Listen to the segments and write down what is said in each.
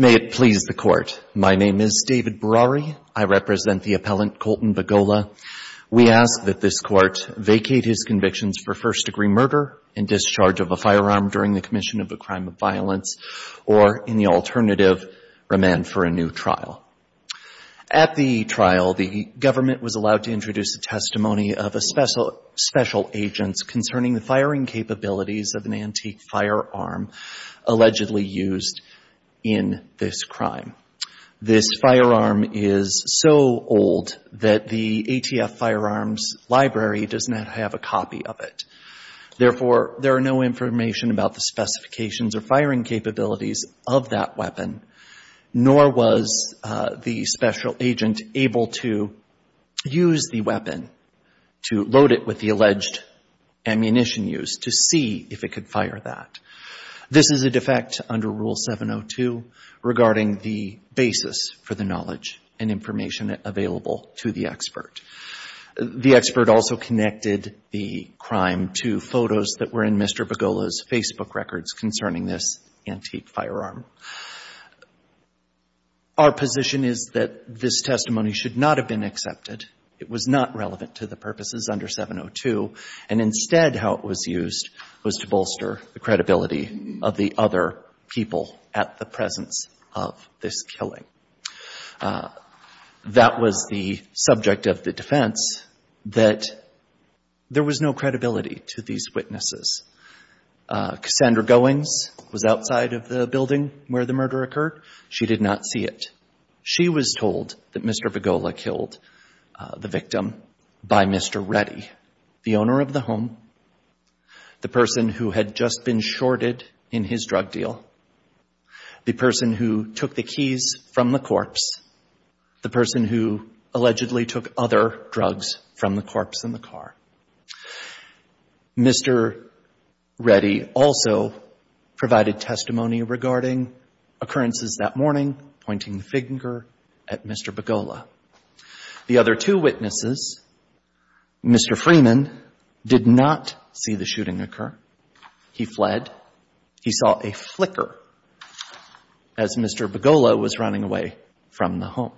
May it please the Court, my name is David Browery. I represent the appellant for first degree murder and discharge of a firearm during the commission of a crime of violence, or in the alternative, remand for a new trial. At the trial, the government was allowed to introduce a testimony of a special agent concerning the firing capabilities of an antique firearm allegedly used in this crime. This firearm is so old that the ATF firearms library does not have a copy of it. Therefore, there are no information about the specifications or firing capabilities of that weapon, nor was the special agent able to use the weapon to load it with the alleged ammunition used to see if it could fire that. This is a defect under Rule 702 regarding the basis for the knowledge and information available to the expert. The expert also connected the crime to photos that were in Mr. Bagola's Facebook records concerning this antique firearm. Our position is that this testimony should not have been accepted. It was not relevant to the purposes under 702, and instead how it was used was to bolster the credibility of the other people at the presence of this killing. That was the subject of the defense that there was no credibility to these witnesses. Cassandra Goings was outside of the building where the murder occurred. She did not see it. She was told that Mr. Bagola killed the victim by Mr. Reddy, the owner of the home, the person who had just been shorted in his drug deal, the person who took the keys from the corpse, the person who allegedly took other drugs from the corpse in the car. Mr. Reddy also provided testimony regarding occurrences that morning, pointing the finger at Mr. Bagola. The other two witnesses, Mr. Freeman, did not see the shooting occur. He fled. He saw a flicker as Mr. Bagola was running away from the home.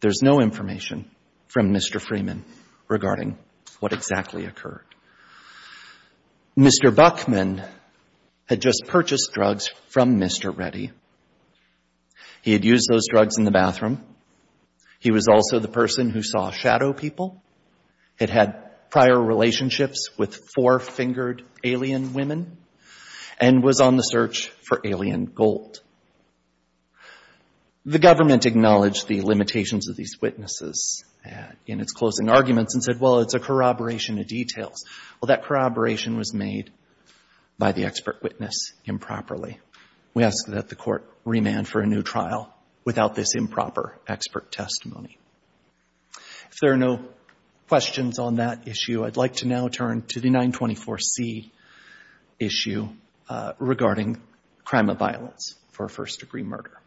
There's no information from Mr. Freeman regarding what exactly occurred. Mr. Buckman had just purchased drugs from Mr. Reddy. He had used those drugs in the bathroom. He was also the person who saw shadow people, had had prior relationships with four-fingered alien women, and was on the search for alien gold. The government acknowledged the limitations of these witnesses in its closing arguments and said, well, it's a corroboration of details. Well, that corroboration was made by the expert witness improperly. We ask that the court remand for a new trial without this improper expert testimony. If there are no questions on that issue, I'd like to now turn to the 924C issue regarding crime of violence for a first-degree murder.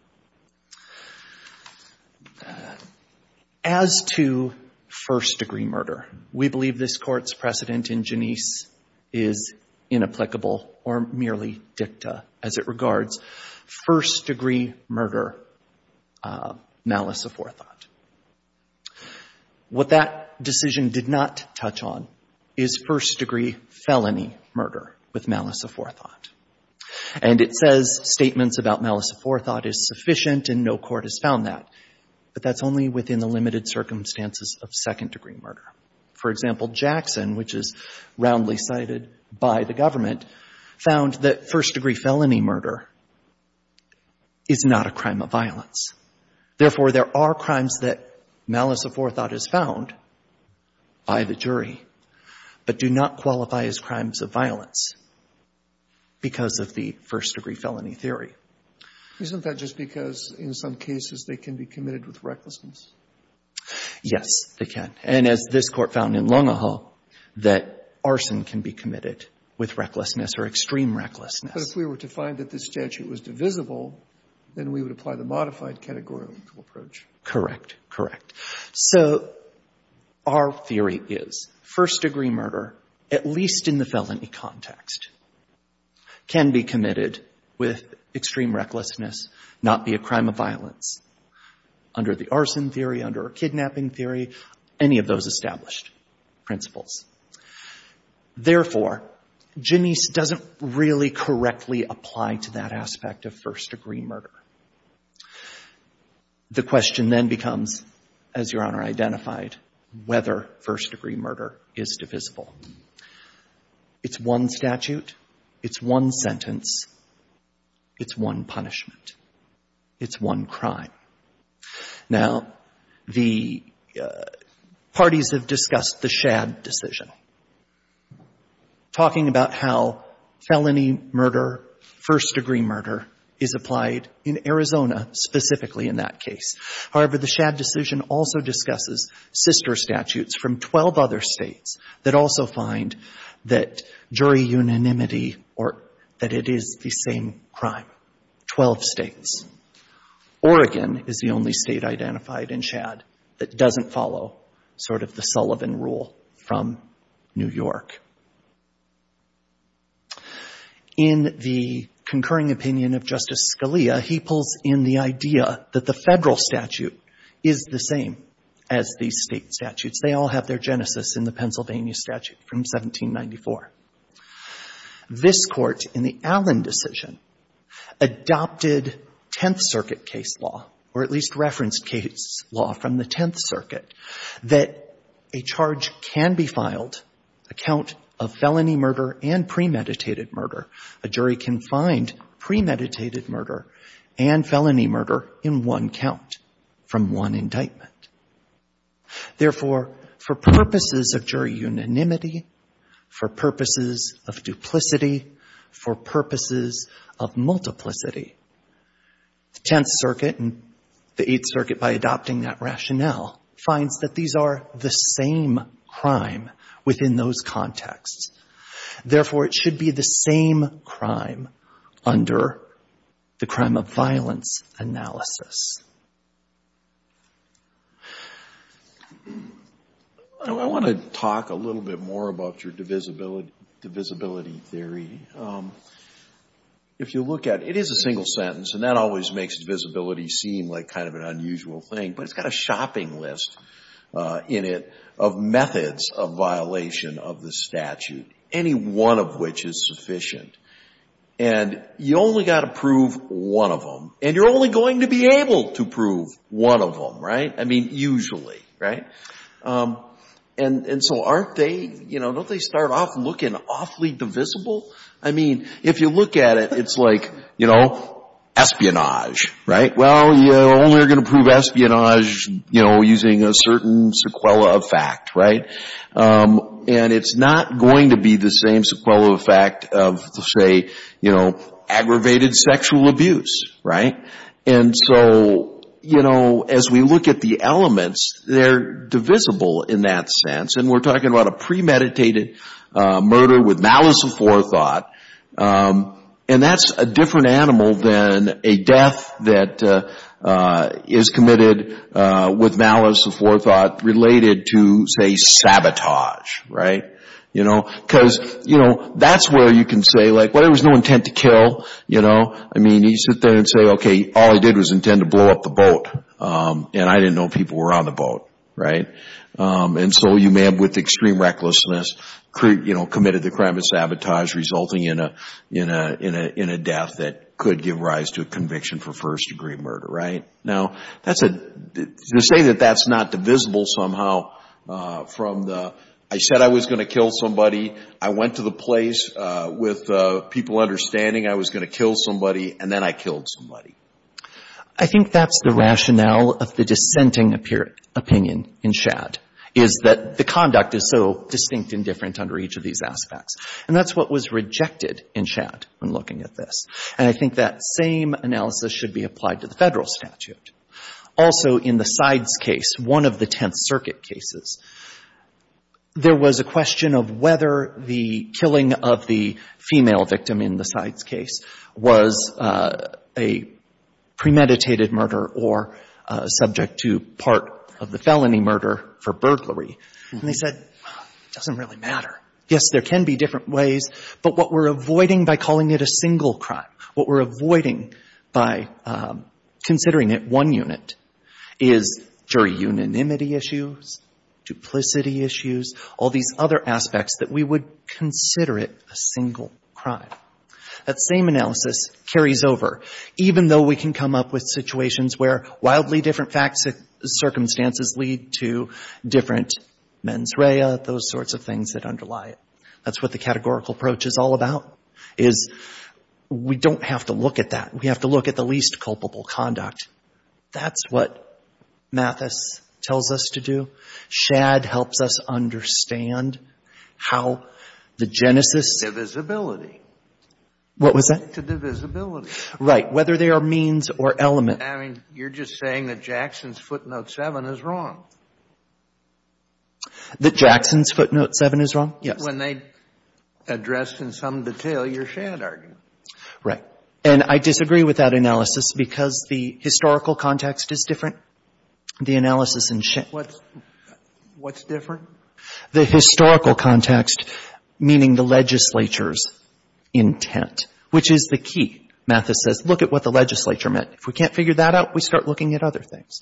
As to first-degree murder, we believe this precedent in Genesee is inapplicable or merely dicta as it regards first-degree murder malice of forethought. What that decision did not touch on is first-degree felony murder with malice of forethought. And it says statements about malice of forethought is sufficient and no court has found that, but that's only within the limited circumstances of second-degree murder. For example, Jackson, which is roundly cited by the government, found that first-degree felony murder is not a crime of violence. Therefore there are crimes that malice of forethought is found by the jury, but do not qualify as crimes of violence because of the first-degree felony theory. Isn't that just because in some cases they can be committed with recklessness? Yes, they can. And as this Court found in Longahill, that arson can be committed with recklessness or extreme recklessness. But if we were to find that this statute was divisible, then we would apply the modified categorical approach. Correct. Correct. So our theory is first-degree murder, at least in the felony context, can be committed with extreme recklessness, not be a crime of violence. Under the arson theory, under a kidnapping theory, any of those established principles. Therefore, Genise doesn't really correctly apply to that aspect of first-degree murder. The question then becomes, as Your Honor identified, whether first-degree murder is divisible. It's one statute. It's one sentence. It's one punishment. It's one crime. Now, the parties have discussed the Shadd decision, talking about how felony murder, first-degree murder, is applied in Arizona specifically in that case. However, the Shadd decision also discusses sister statutes from 12 other states that also find that jury unanimity or that it is the same crime, 12 states. Oregon, is the only state identified in Shadd that doesn't follow sort of the Sullivan rule from New York. In the concurring opinion of Justice Scalia, he pulls in the idea that the Federal statute is the same as the state statutes. They all have their genesis in the Pennsylvania statute from 1794. This Court, in the Allen decision, adopted Tenth Circuit case law, or at least referenced case law from the Tenth Circuit, that a charge can be filed, a count of felony murder and premeditated murder. A jury can find premeditated murder and felony murder in one count from one indictment. Therefore, for purposes of jury unanimity, for purposes of duplicity, for purposes of multiplicity, the Tenth Circuit and the Eighth Circuit, by adopting that rationale, finds that these are the same crime within those contexts. Therefore, it should be the same crime under the crime of violence analysis. I want to talk a little bit more about your divisibility theory. If you look at it, it is a single sentence, and that always makes divisibility seem like kind of an unusual thing, but it's got a shopping list in it of methods of violation of the statute, any one of which is sufficient. And you only got to prove one of them. And you're only going to be able to prove one of them, right? I mean, usually, right? And so aren't they, you know, don't they start off looking awfully divisible? I mean, if you look at it, it's like, you know, espionage, right? Well, you're only going to prove espionage, you know, using a certain sequela of fact, right? And it's not going to be the same sequela of fact of, say, you know, aggravated sexual abuse, right? And it's not going to be the same sequela of fact of, say, you know, aggravated sexual abuse, right? And so, you know, as we look at the elements, they're divisible in that sense. And we're talking about a premeditated murder with malice of forethought, and that's a different animal than a death that is committed with malice of forethought related to, say, a crime of sabotage resulting in a death that could give rise to a conviction for first degree murder, right? Now, to say that that's not divisible somehow from the, I said I was going to kill somebody, I went to the place with people understanding I was going to kill somebody, and then I killed somebody. I think that's the rationale of the dissenting opinion in Schad, is that the conduct is so distinct and different under each of these aspects. And that's what was rejected in Schad when looking at this. And I think that same analysis should be applied to the Federal statute. Also, in the sides case, one of the Tenth Circuit cases, there was a question of whether the killing of the female victim in the sides case was a premeditated murder or subject to part of the felony murder for burglary. And they said, well, it doesn't really matter. Yes, there can be different ways, but what we're avoiding by calling it a single crime, what we're avoiding by considering it one unit is jury unanimity issues, duplicity issues, all these other aspects that we would consider it a single crime. That same analysis carries over, even though we can come up with situations where wildly different circumstances lead to different mens rea, those sorts of things that underlie it. That's what the categorical approach is all about, is we don't have to look at that. We have to look at the least culpable conduct. That's what Mathis tells us to understand, how the genesis of this ability. What was that? To divisibility. Right. Whether they are means or element. I mean, you're just saying that Jackson's footnote 7 is wrong. That Jackson's footnote 7 is wrong? Yes. When they address in some detail your Shand argument. Right. And I disagree with that analysis because the historical context is different, the analysis in Shand. What's different? The historical context, meaning the legislature's intent, which is the key, Mathis says. Look at what the legislature meant. If we can't figure that out, we start looking at other things.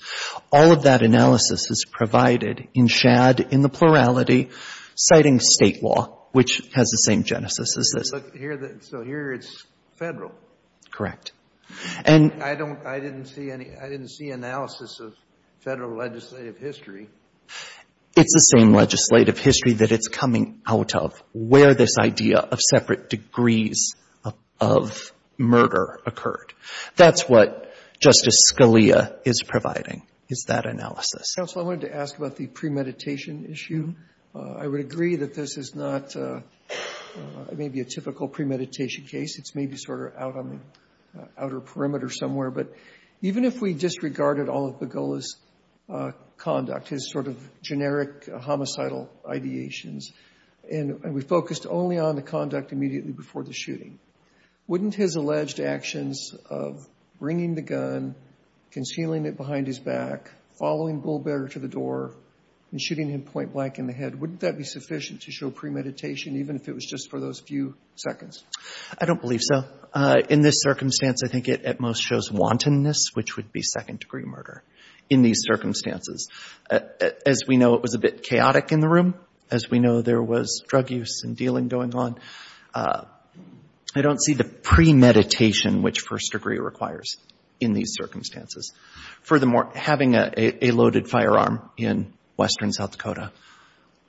All of that analysis is provided in Shand, in the plurality, citing state law, which has the same genesis as this. So here it's federal? Correct. And I didn't see analysis of federal legislative history. It's the same legislative history that it's coming out of, where this idea of separate degrees of murder occurred. That's what Justice Scalia is providing, is that analysis. Counsel, I wanted to ask about the premeditation issue. I would agree that this is not maybe a typical premeditation case. It's maybe sort of out on the outer perimeter somewhere. But even if we disregarded all of Begola's conduct, his sort of generic homicidal ideations, and we focused only on the conduct immediately before the shooting, wouldn't his alleged actions of bringing the gun, concealing it behind his back, following Bull Bearer to the door, and shooting him point blank in the head, wouldn't that be sufficient to show premeditation, even if it was just for those few seconds? I don't believe so. In this circumstance, I think it at most shows wantonness, which would be second-degree murder in these circumstances. As we know, it was a bit chaotic in the room. As we know, there was drug use and dealing going on. I don't see the premeditation, which first degree requires, in these circumstances. Furthermore, having a loaded firearm in western South Dakota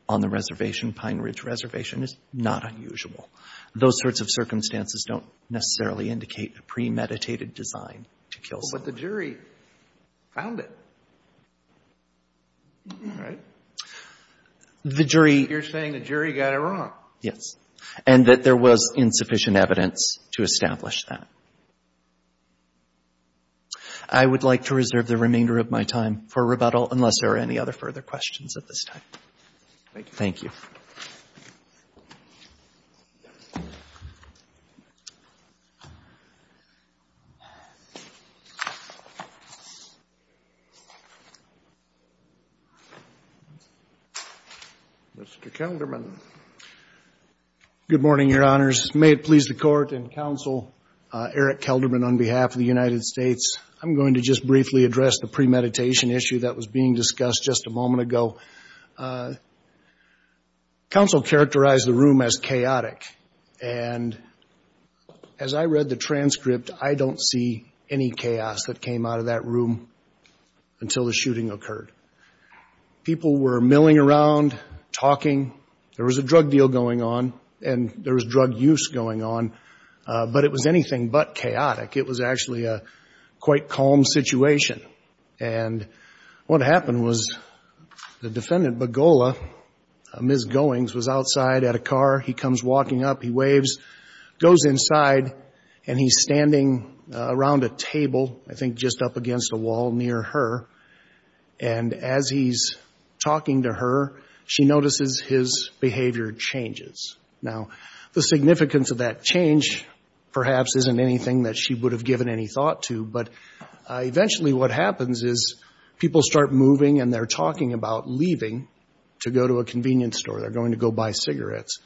on the reservation, Pine Ridge Reservation, is not unusual. Those sorts of circumstances don't necessarily indicate a premeditated design to kill someone. But the jury found it, right? You're saying the jury got it wrong. Yes. And that there was insufficient evidence to establish that. I would like to reserve the floor to Mr. Kelderman. Mr. Kelderman. Good morning, Your Honors. May it please the Court and Counsel Eric Kelderman on behalf of the United States. I'm going to just briefly address the premeditation issue that was being discussed just a moment ago. Counsel characterized the room as chaotic. And as I read the transcript, I don't see any chaos that came out of that room until the shooting occurred. People were milling around, talking. There was a drug deal going on, and there was drug use going on. But it was anything but chaotic. It was actually a quite calm situation. And what happened was the defendant, Begola, Ms. Goings, was outside at a car. He comes walking up. He waves, goes inside, and he's standing around a table, I think just up against a wall near her. And as he's talking to her, she notices his behavior changes. Now, the significance of that change perhaps isn't anything that she would have given any thought to. But eventually what happens is people start moving, and they're talking about leaving to go to a convenience store. They're going to go buy cigarettes.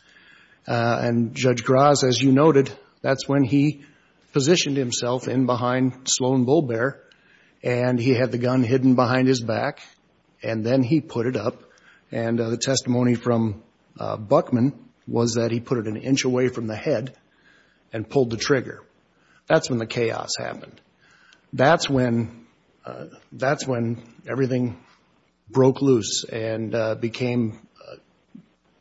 And Judge Graz, as you noted, that's when he positioned himself in behind Sloan Bull Bear, and he had the gun hidden behind his back. And then he put it up, and the testimony from Buckman was that he put it an inch away from the head and pulled the trigger. That's when the chaos happened. That's when everything broke loose and became,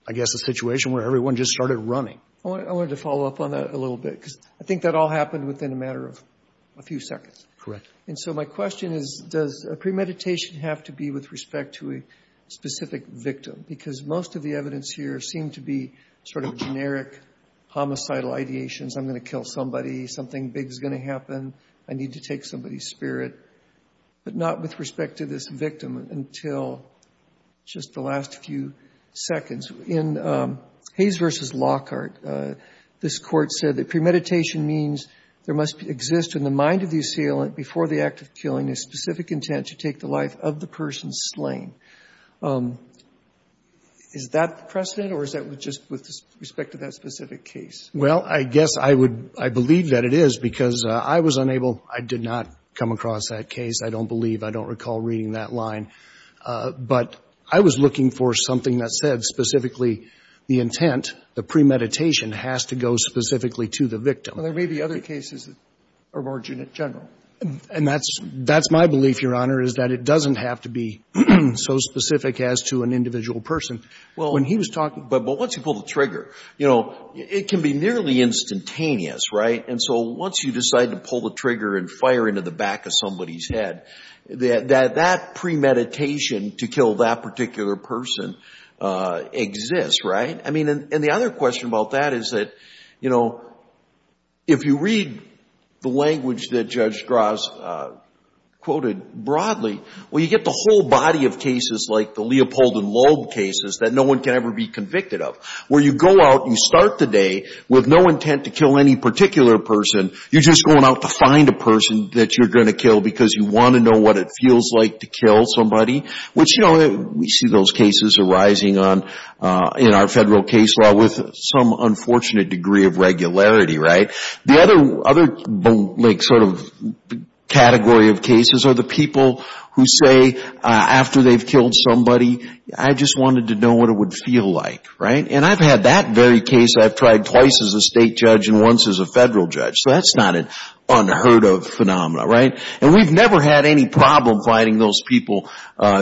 I guess, a situation where everyone just started running. I wanted to follow up on that a little bit, because I think that all happened within a matter of a few seconds. Correct. And so my question is, does premeditation have to be with respect to a specific victim? Because most of the evidence here seemed to be sort of generic homicidal ideations. I'm going to kill somebody, something big is going to happen, I need to take somebody's spirit. But not with respect to this victim until just the last few seconds. In Hayes v. Lockhart, this court said that premeditation means there must exist in the mind of the assailant before the act of killing a specific intent to take the life of the person slain. Is that the precedent, or is that just with respect to that specific case? Well, I guess I would — I believe that it is, because I was unable — I did not come across that case, I don't believe. I don't recall reading that line. But I was looking for something that said specifically the intent, the premeditation, has to go specifically to the victim. Well, there may be other cases of origin in general. And that's my belief, Your Honor, is that it doesn't have to be so specific as to an individual person. Well, but once you pull the trigger, you know, it can be nearly instantaneous, right? And so once you decide to pull the trigger and fire into the back of somebody's head, that premeditation to kill that particular person exists, right? I mean, and the other question about that is that, you know, if you read the language that Judge Strauss put out in his premeditation, Judge Strauss quoted broadly, well, you get the whole body of cases like the Leopold and Loeb cases that no one can ever be convicted of. Where you go out, you start the day with no intent to kill any particular person. You're just going out to find a person that you're going to kill because you want to know what it feels like to kill somebody. Which, you know, we see those cases arising on — in our federal case law with some unfortunate degree of regularity, right? The other, like, sort of category of cases are the people who say, after they've killed somebody, I just wanted to know what it would feel like, right? And I've had that very case, I've tried twice as a state judge and once as a federal judge. So that's not an unheard-of phenomenon, right? And we've never had any problem finding those people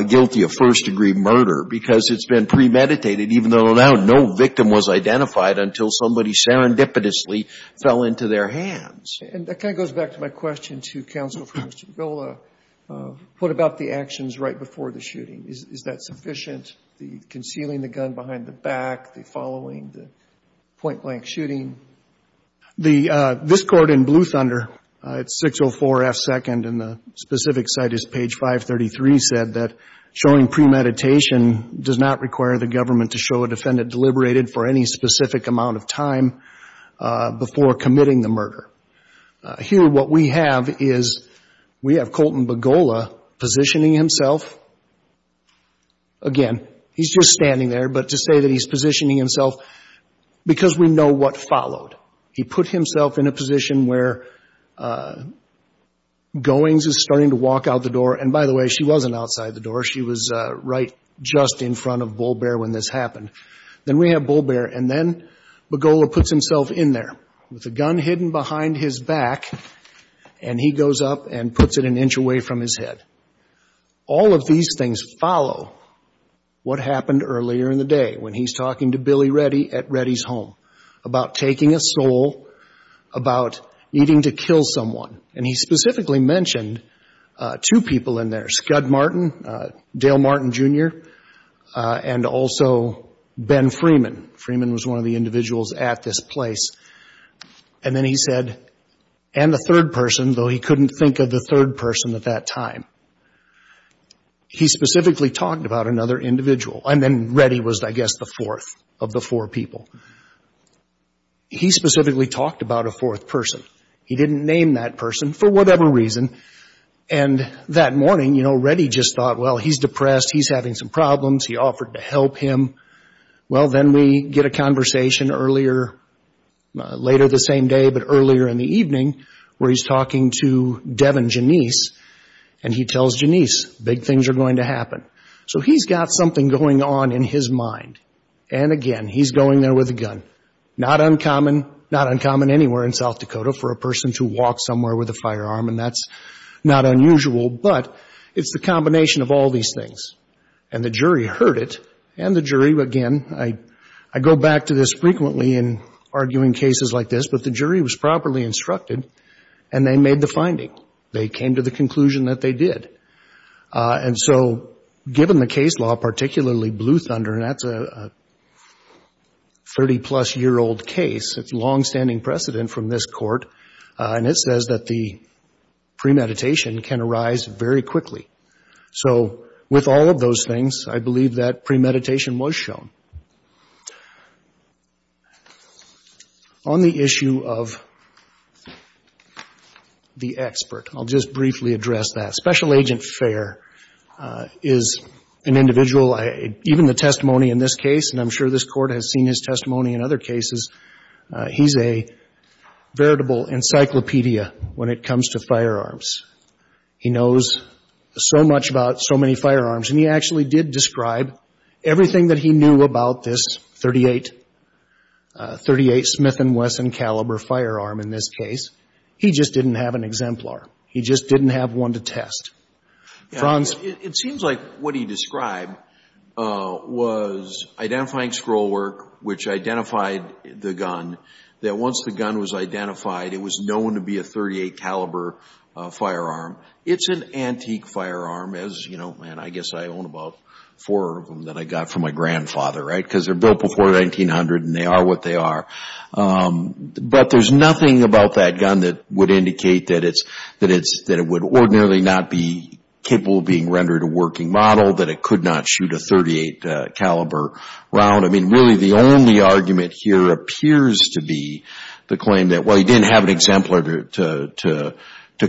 guilty of first-degree murder because it's been premeditated, even though now no victim was identified until somebody serendipitously fell into their hands. And that kind of goes back to my question to counsel for Mr. Vila. What about the actions right before the shooting? Is that sufficient, the concealing the gun behind the back, the following, the point-blank shooting? The — this court in Blue Thunder, it's 604 F. 2nd, and the specific site is page 533, said that showing premeditation does not require the government to show a defendant deliberated for any specific amount of time before committing the murder. Here, what we have is we have Colton Begola positioning himself. Again, he's just standing there, but to say that he's positioning himself because we know what followed. He put himself in a position where Goings is starting to walk out the door. And by the way, she wasn't outside the door. She was right just in front of Bull Bear when this happened. Then we have Bull Bear, and then Begola puts himself in there with a gun hidden behind his back, and he goes up and puts it an inch away from his head. All of these things follow what happened earlier in the day when he's talking to Billy Reddy at Reddy's home about taking a soul, about needing to kill someone. And he specifically mentioned two people in there, Scud Martin, Dale Martin, Jr., and also Ben Freeman. Freeman was one of the individuals at this place. And then he said, and the third person, though he couldn't think of the third person at that time. He specifically talked about another individual. And then Reddy was, I guess, the fourth of the four people. He specifically talked about a fourth person. He didn't name that person for whatever reason. And that morning, you know, Reddy just thought, well, he's depressed, he's having some problems. He offered to help him. Well, then we get a conversation earlier, later the same day, but earlier in the evening, where he's talking to Devin Janisse, and he tells Janisse, big things are going to happen. So he's got something going on in his mind. And again, he's going there with a gun. Not uncommon anywhere in South Dakota for a person to walk somewhere with a firearm, and that's not unusual. But it's the combination of all these things. And the jury heard it, and the jury, again, I go back to this frequently in arguing cases like this, but the jury was properly instructed, and they made the finding. They came to the conclusion that they did. And so given the case law, particularly Blue Thunder, and that's a 30-plus-year-old case, it's longstanding precedent from this Court, and it says that the premeditation can arise very quickly. So with all of those things, I believe that premeditation was shown. On the issue of the expert, I'll just briefly address that. Special Agent Fair is an individual. Even the testimony in this case, and I'm sure this Court has seen his testimony in other cases, he's a veritable encyclopedia when it comes to firearms. He knows so much about so many firearms, and he actually did describe everything that he knew about this .38 Smith & Wesson caliber firearm in this case. He just didn't have an exemplar. He just didn't have one to test. It seems like what he described was identifying scroll work, which identified the gun, that once the gun was identified, it was known to be a .38 caliber firearm. It's an antique firearm, as you know, and I guess I own about four of them that I got from my grandfather, right, because they're built before 1900, and they are what they are. But there's nothing about that gun that would indicate that it would ordinarily not be capable of being rendered a working model, that it could not shoot a .38 caliber round. I mean, really the only argument here appears to be the claim that, well, he didn't have an exemplar to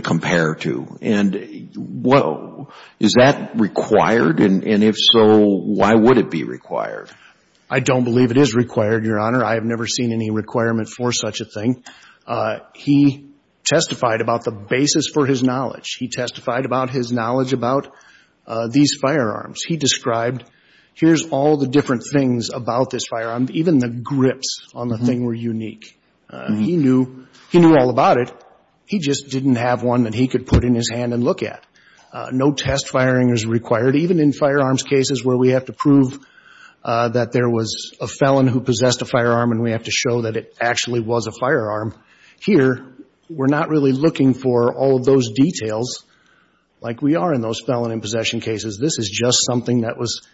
compare to. Is that required, and if so, why would it be required? I don't believe it is required, Your Honor. I have never seen any requirement for such a thing. He testified about the basis for his knowledge. He testified about his knowledge about these firearms. He described, here's all the different things about this firearm. Even the grips on the thing were unique. He knew all about it. He just didn't have one that he could put in his hand and look at. No test firing is required, even in firearms cases where we have to prove that there was a felon who possessed a firearm and we have to show that it actually was a firearm. Here, we're not really looking for all of those details like we are in those felon and possession cases. This is just something that was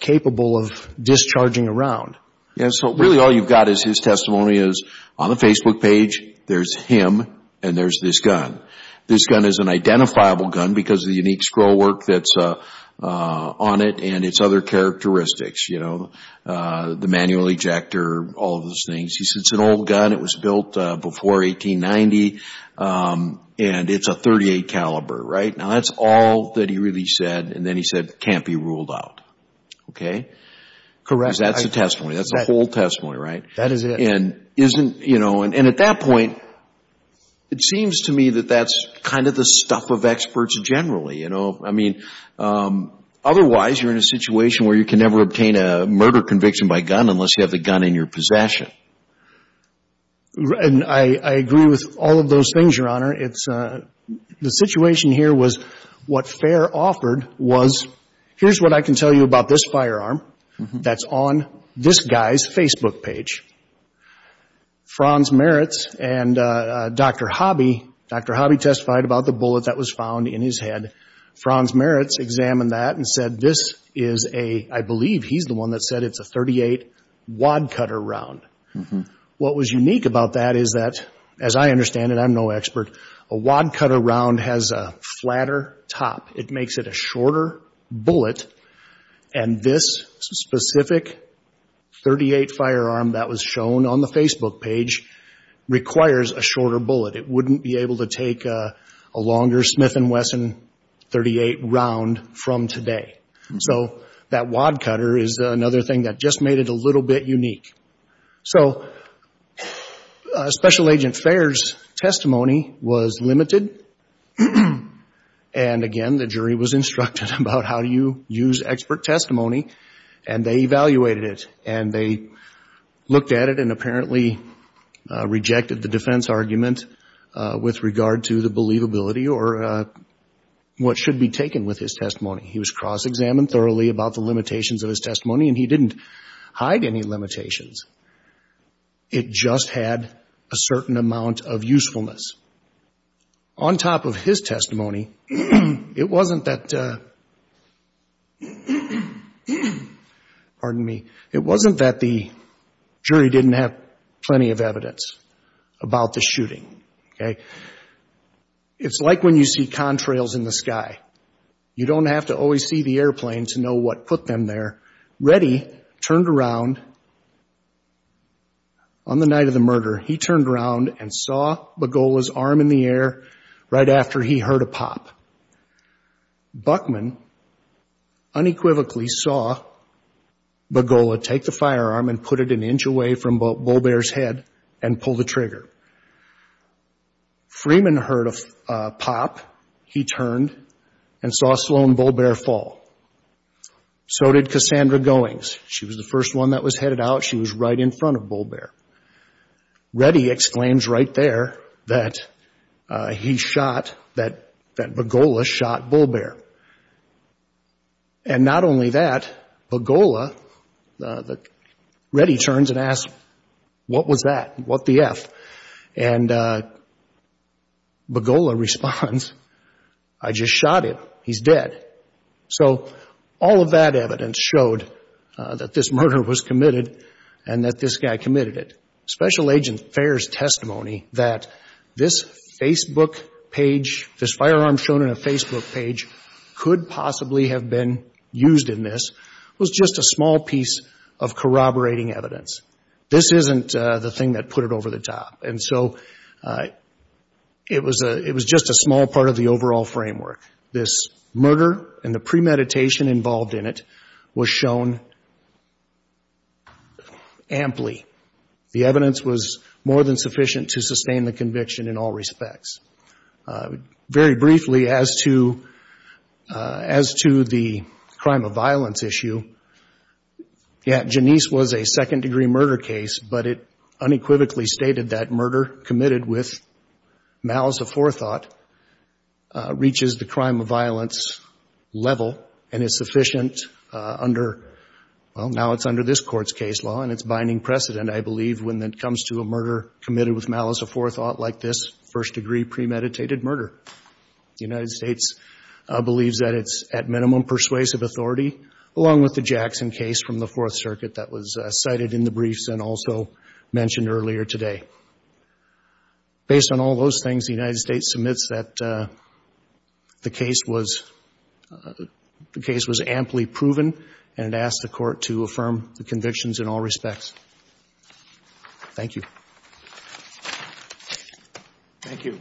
capable of discharging a round. So really all you've got is his testimony is on the Facebook page, there's him and there's this gun. This gun is an identifiable gun because of the unique scroll work that's on it and its other characteristics, the manual ejector, all of those things. It's an old gun. It was built before 1890 and it's a .38 caliber. That's all that he really said and then he said it can't be ruled out. That's the testimony, that's the whole testimony. That is it. At that point, it seems to me that that's kind of the stuff of experts generally. Otherwise, you're in a situation where you can never obtain a murder conviction by gun unless you have the gun in your possession. I agree with all of those things, Your Honor. The situation here was what Fair offered was here's what I can tell you about this firearm that's on this guy's Facebook page. Franz Meritz and Dr. Hobby, Dr. Hobby testified about the bullet that was found in his head. Franz Meritz examined that and said this is a, I believe he's the one that said it's a .38 wadcutter round. What was unique about that is that, as I understand it, I'm no expert, a wadcutter round has a flatter top. It makes it a shorter bullet and this specific .38 firearm that was shown on the Facebook page requires a shorter bullet. It wouldn't be able to take a longer Smith & Wesson .38 round from today. So that wadcutter is another thing that just made it a little bit unique. So Special Agent Fair's testimony was limited. And again, the jury was instructed about how do you use expert testimony and they evaluated it and they looked at it and apparently rejected the defense argument with regard to the believability or what should be taken with his testimony. He was cross-examined thoroughly about the limitations of his testimony and he didn't hide any limitations. It just had a certain amount of usefulness. On top of his testimony, it wasn't that the jury didn't have plenty of evidence about the shooting. It's like when you see contrails in the sky. You don't have to always see the airplane to know what put them there. Reddy turned around on the night of the murder. He turned around and saw Bogola's arm in the air right after he heard a pop. Buckman unequivocally saw Bogola take the firearm and put it an inch away from Bobear's head and pull the trigger. Freeman heard a pop. He turned and saw Sloan Bobear fall. So did Cassandra Goings. She was the first one that was headed out. She was right in front of Bobear. Reddy exclaims right there that he shot, that Bogola shot Bobear. And not only that, Bogola, Reddy turns and asks, what was that? What the F? And Bogola responds, I just shot him. He's dead. So all of that evidence showed that this murder was committed and that this guy committed it. Special Agent Fair's testimony that this Facebook page, this firearm shown on a Facebook page could possibly have been used in this was just a small piece of corroborating evidence. This isn't the thing that put it over the top. And so it was just a small part of the overall framework. This murder and the premeditation involved in it was shown amply. The evidence was more than sufficient to sustain the conviction in all respects. Very briefly, as to the crime of violence issue, Janice was a second-degree murder case, but it unequivocally stated that murder committed with malice of forethought reaches the crime of violence level, and it's sufficient under, well, now it's under this Court's case law, and it's binding precedent, I believe, when it comes to a murder committed with malice of forethought like this first-degree premeditated murder. The United States believes that it's at minimum persuasive authority, along with the Jackson case from the Fourth Circuit that was cited in the briefs and also mentioned earlier today. Based on all those things, the United States submits that the case was amply proven, and it asks the Court to affirm the convictions in all respects. Thank you. Thank you.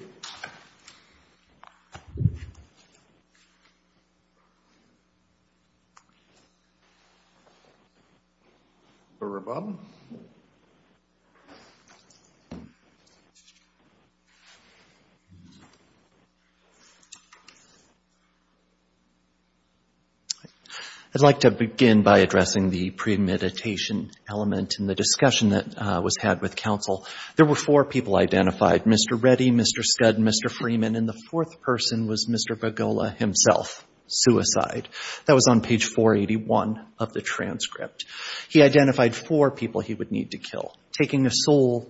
I'd like to begin by addressing the premeditation element in the discussion that was had with Russell. There were four people identified, Mr. Reddy, Mr. Scud, and Mr. Freeman, and the fourth person was Mr. Begola himself, suicide. That was on page 481 of the transcript. He identified four people he would need to kill. Taking a soul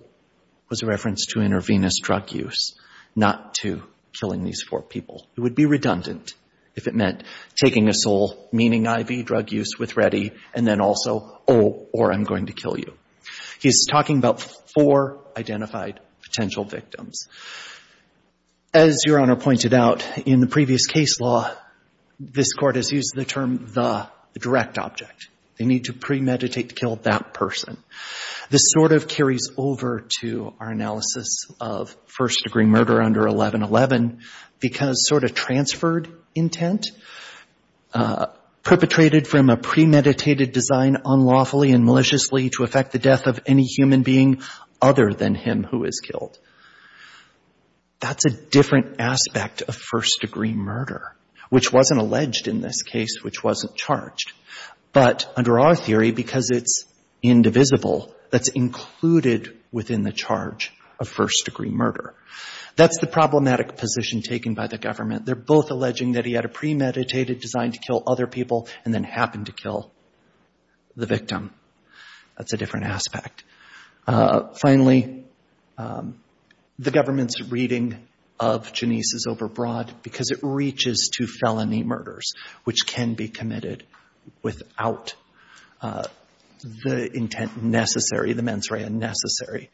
was a reference to intravenous drug use, not to killing these four people. It would be redundant if it meant taking a soul, meaning IV drug use with Reddy, and then also, oh, or I'm going to kill you. He's talking about four identified potential victims. As Your Honor pointed out, in the previous case law, this Court has used the term the direct object. They need to premeditate to kill that person. This sort of carries over to our analysis of first-degree murder under 1111, because sort of transferred intent, perpetrated from a premeditated design unlawfully and maliciously to affect the death of any human being other than him who is killed. That's a different aspect of first-degree murder, which wasn't alleged in this case, which wasn't charged. But under our theory, because it's indivisible, that's included within the charge of first-degree murder. That's the problematic position taken by the government. They're both alleging that he had a premeditated design to kill other people and then happened to kill the victim. That's a different aspect. Finally, the government's reading of Janisse is overbroad, because it reaches to felony murders, which can be committed without the intent necessary, the mens rea necessary,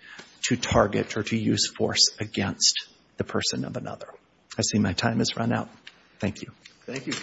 to target or to use force against the person of another. I see my time has run out. Thank you.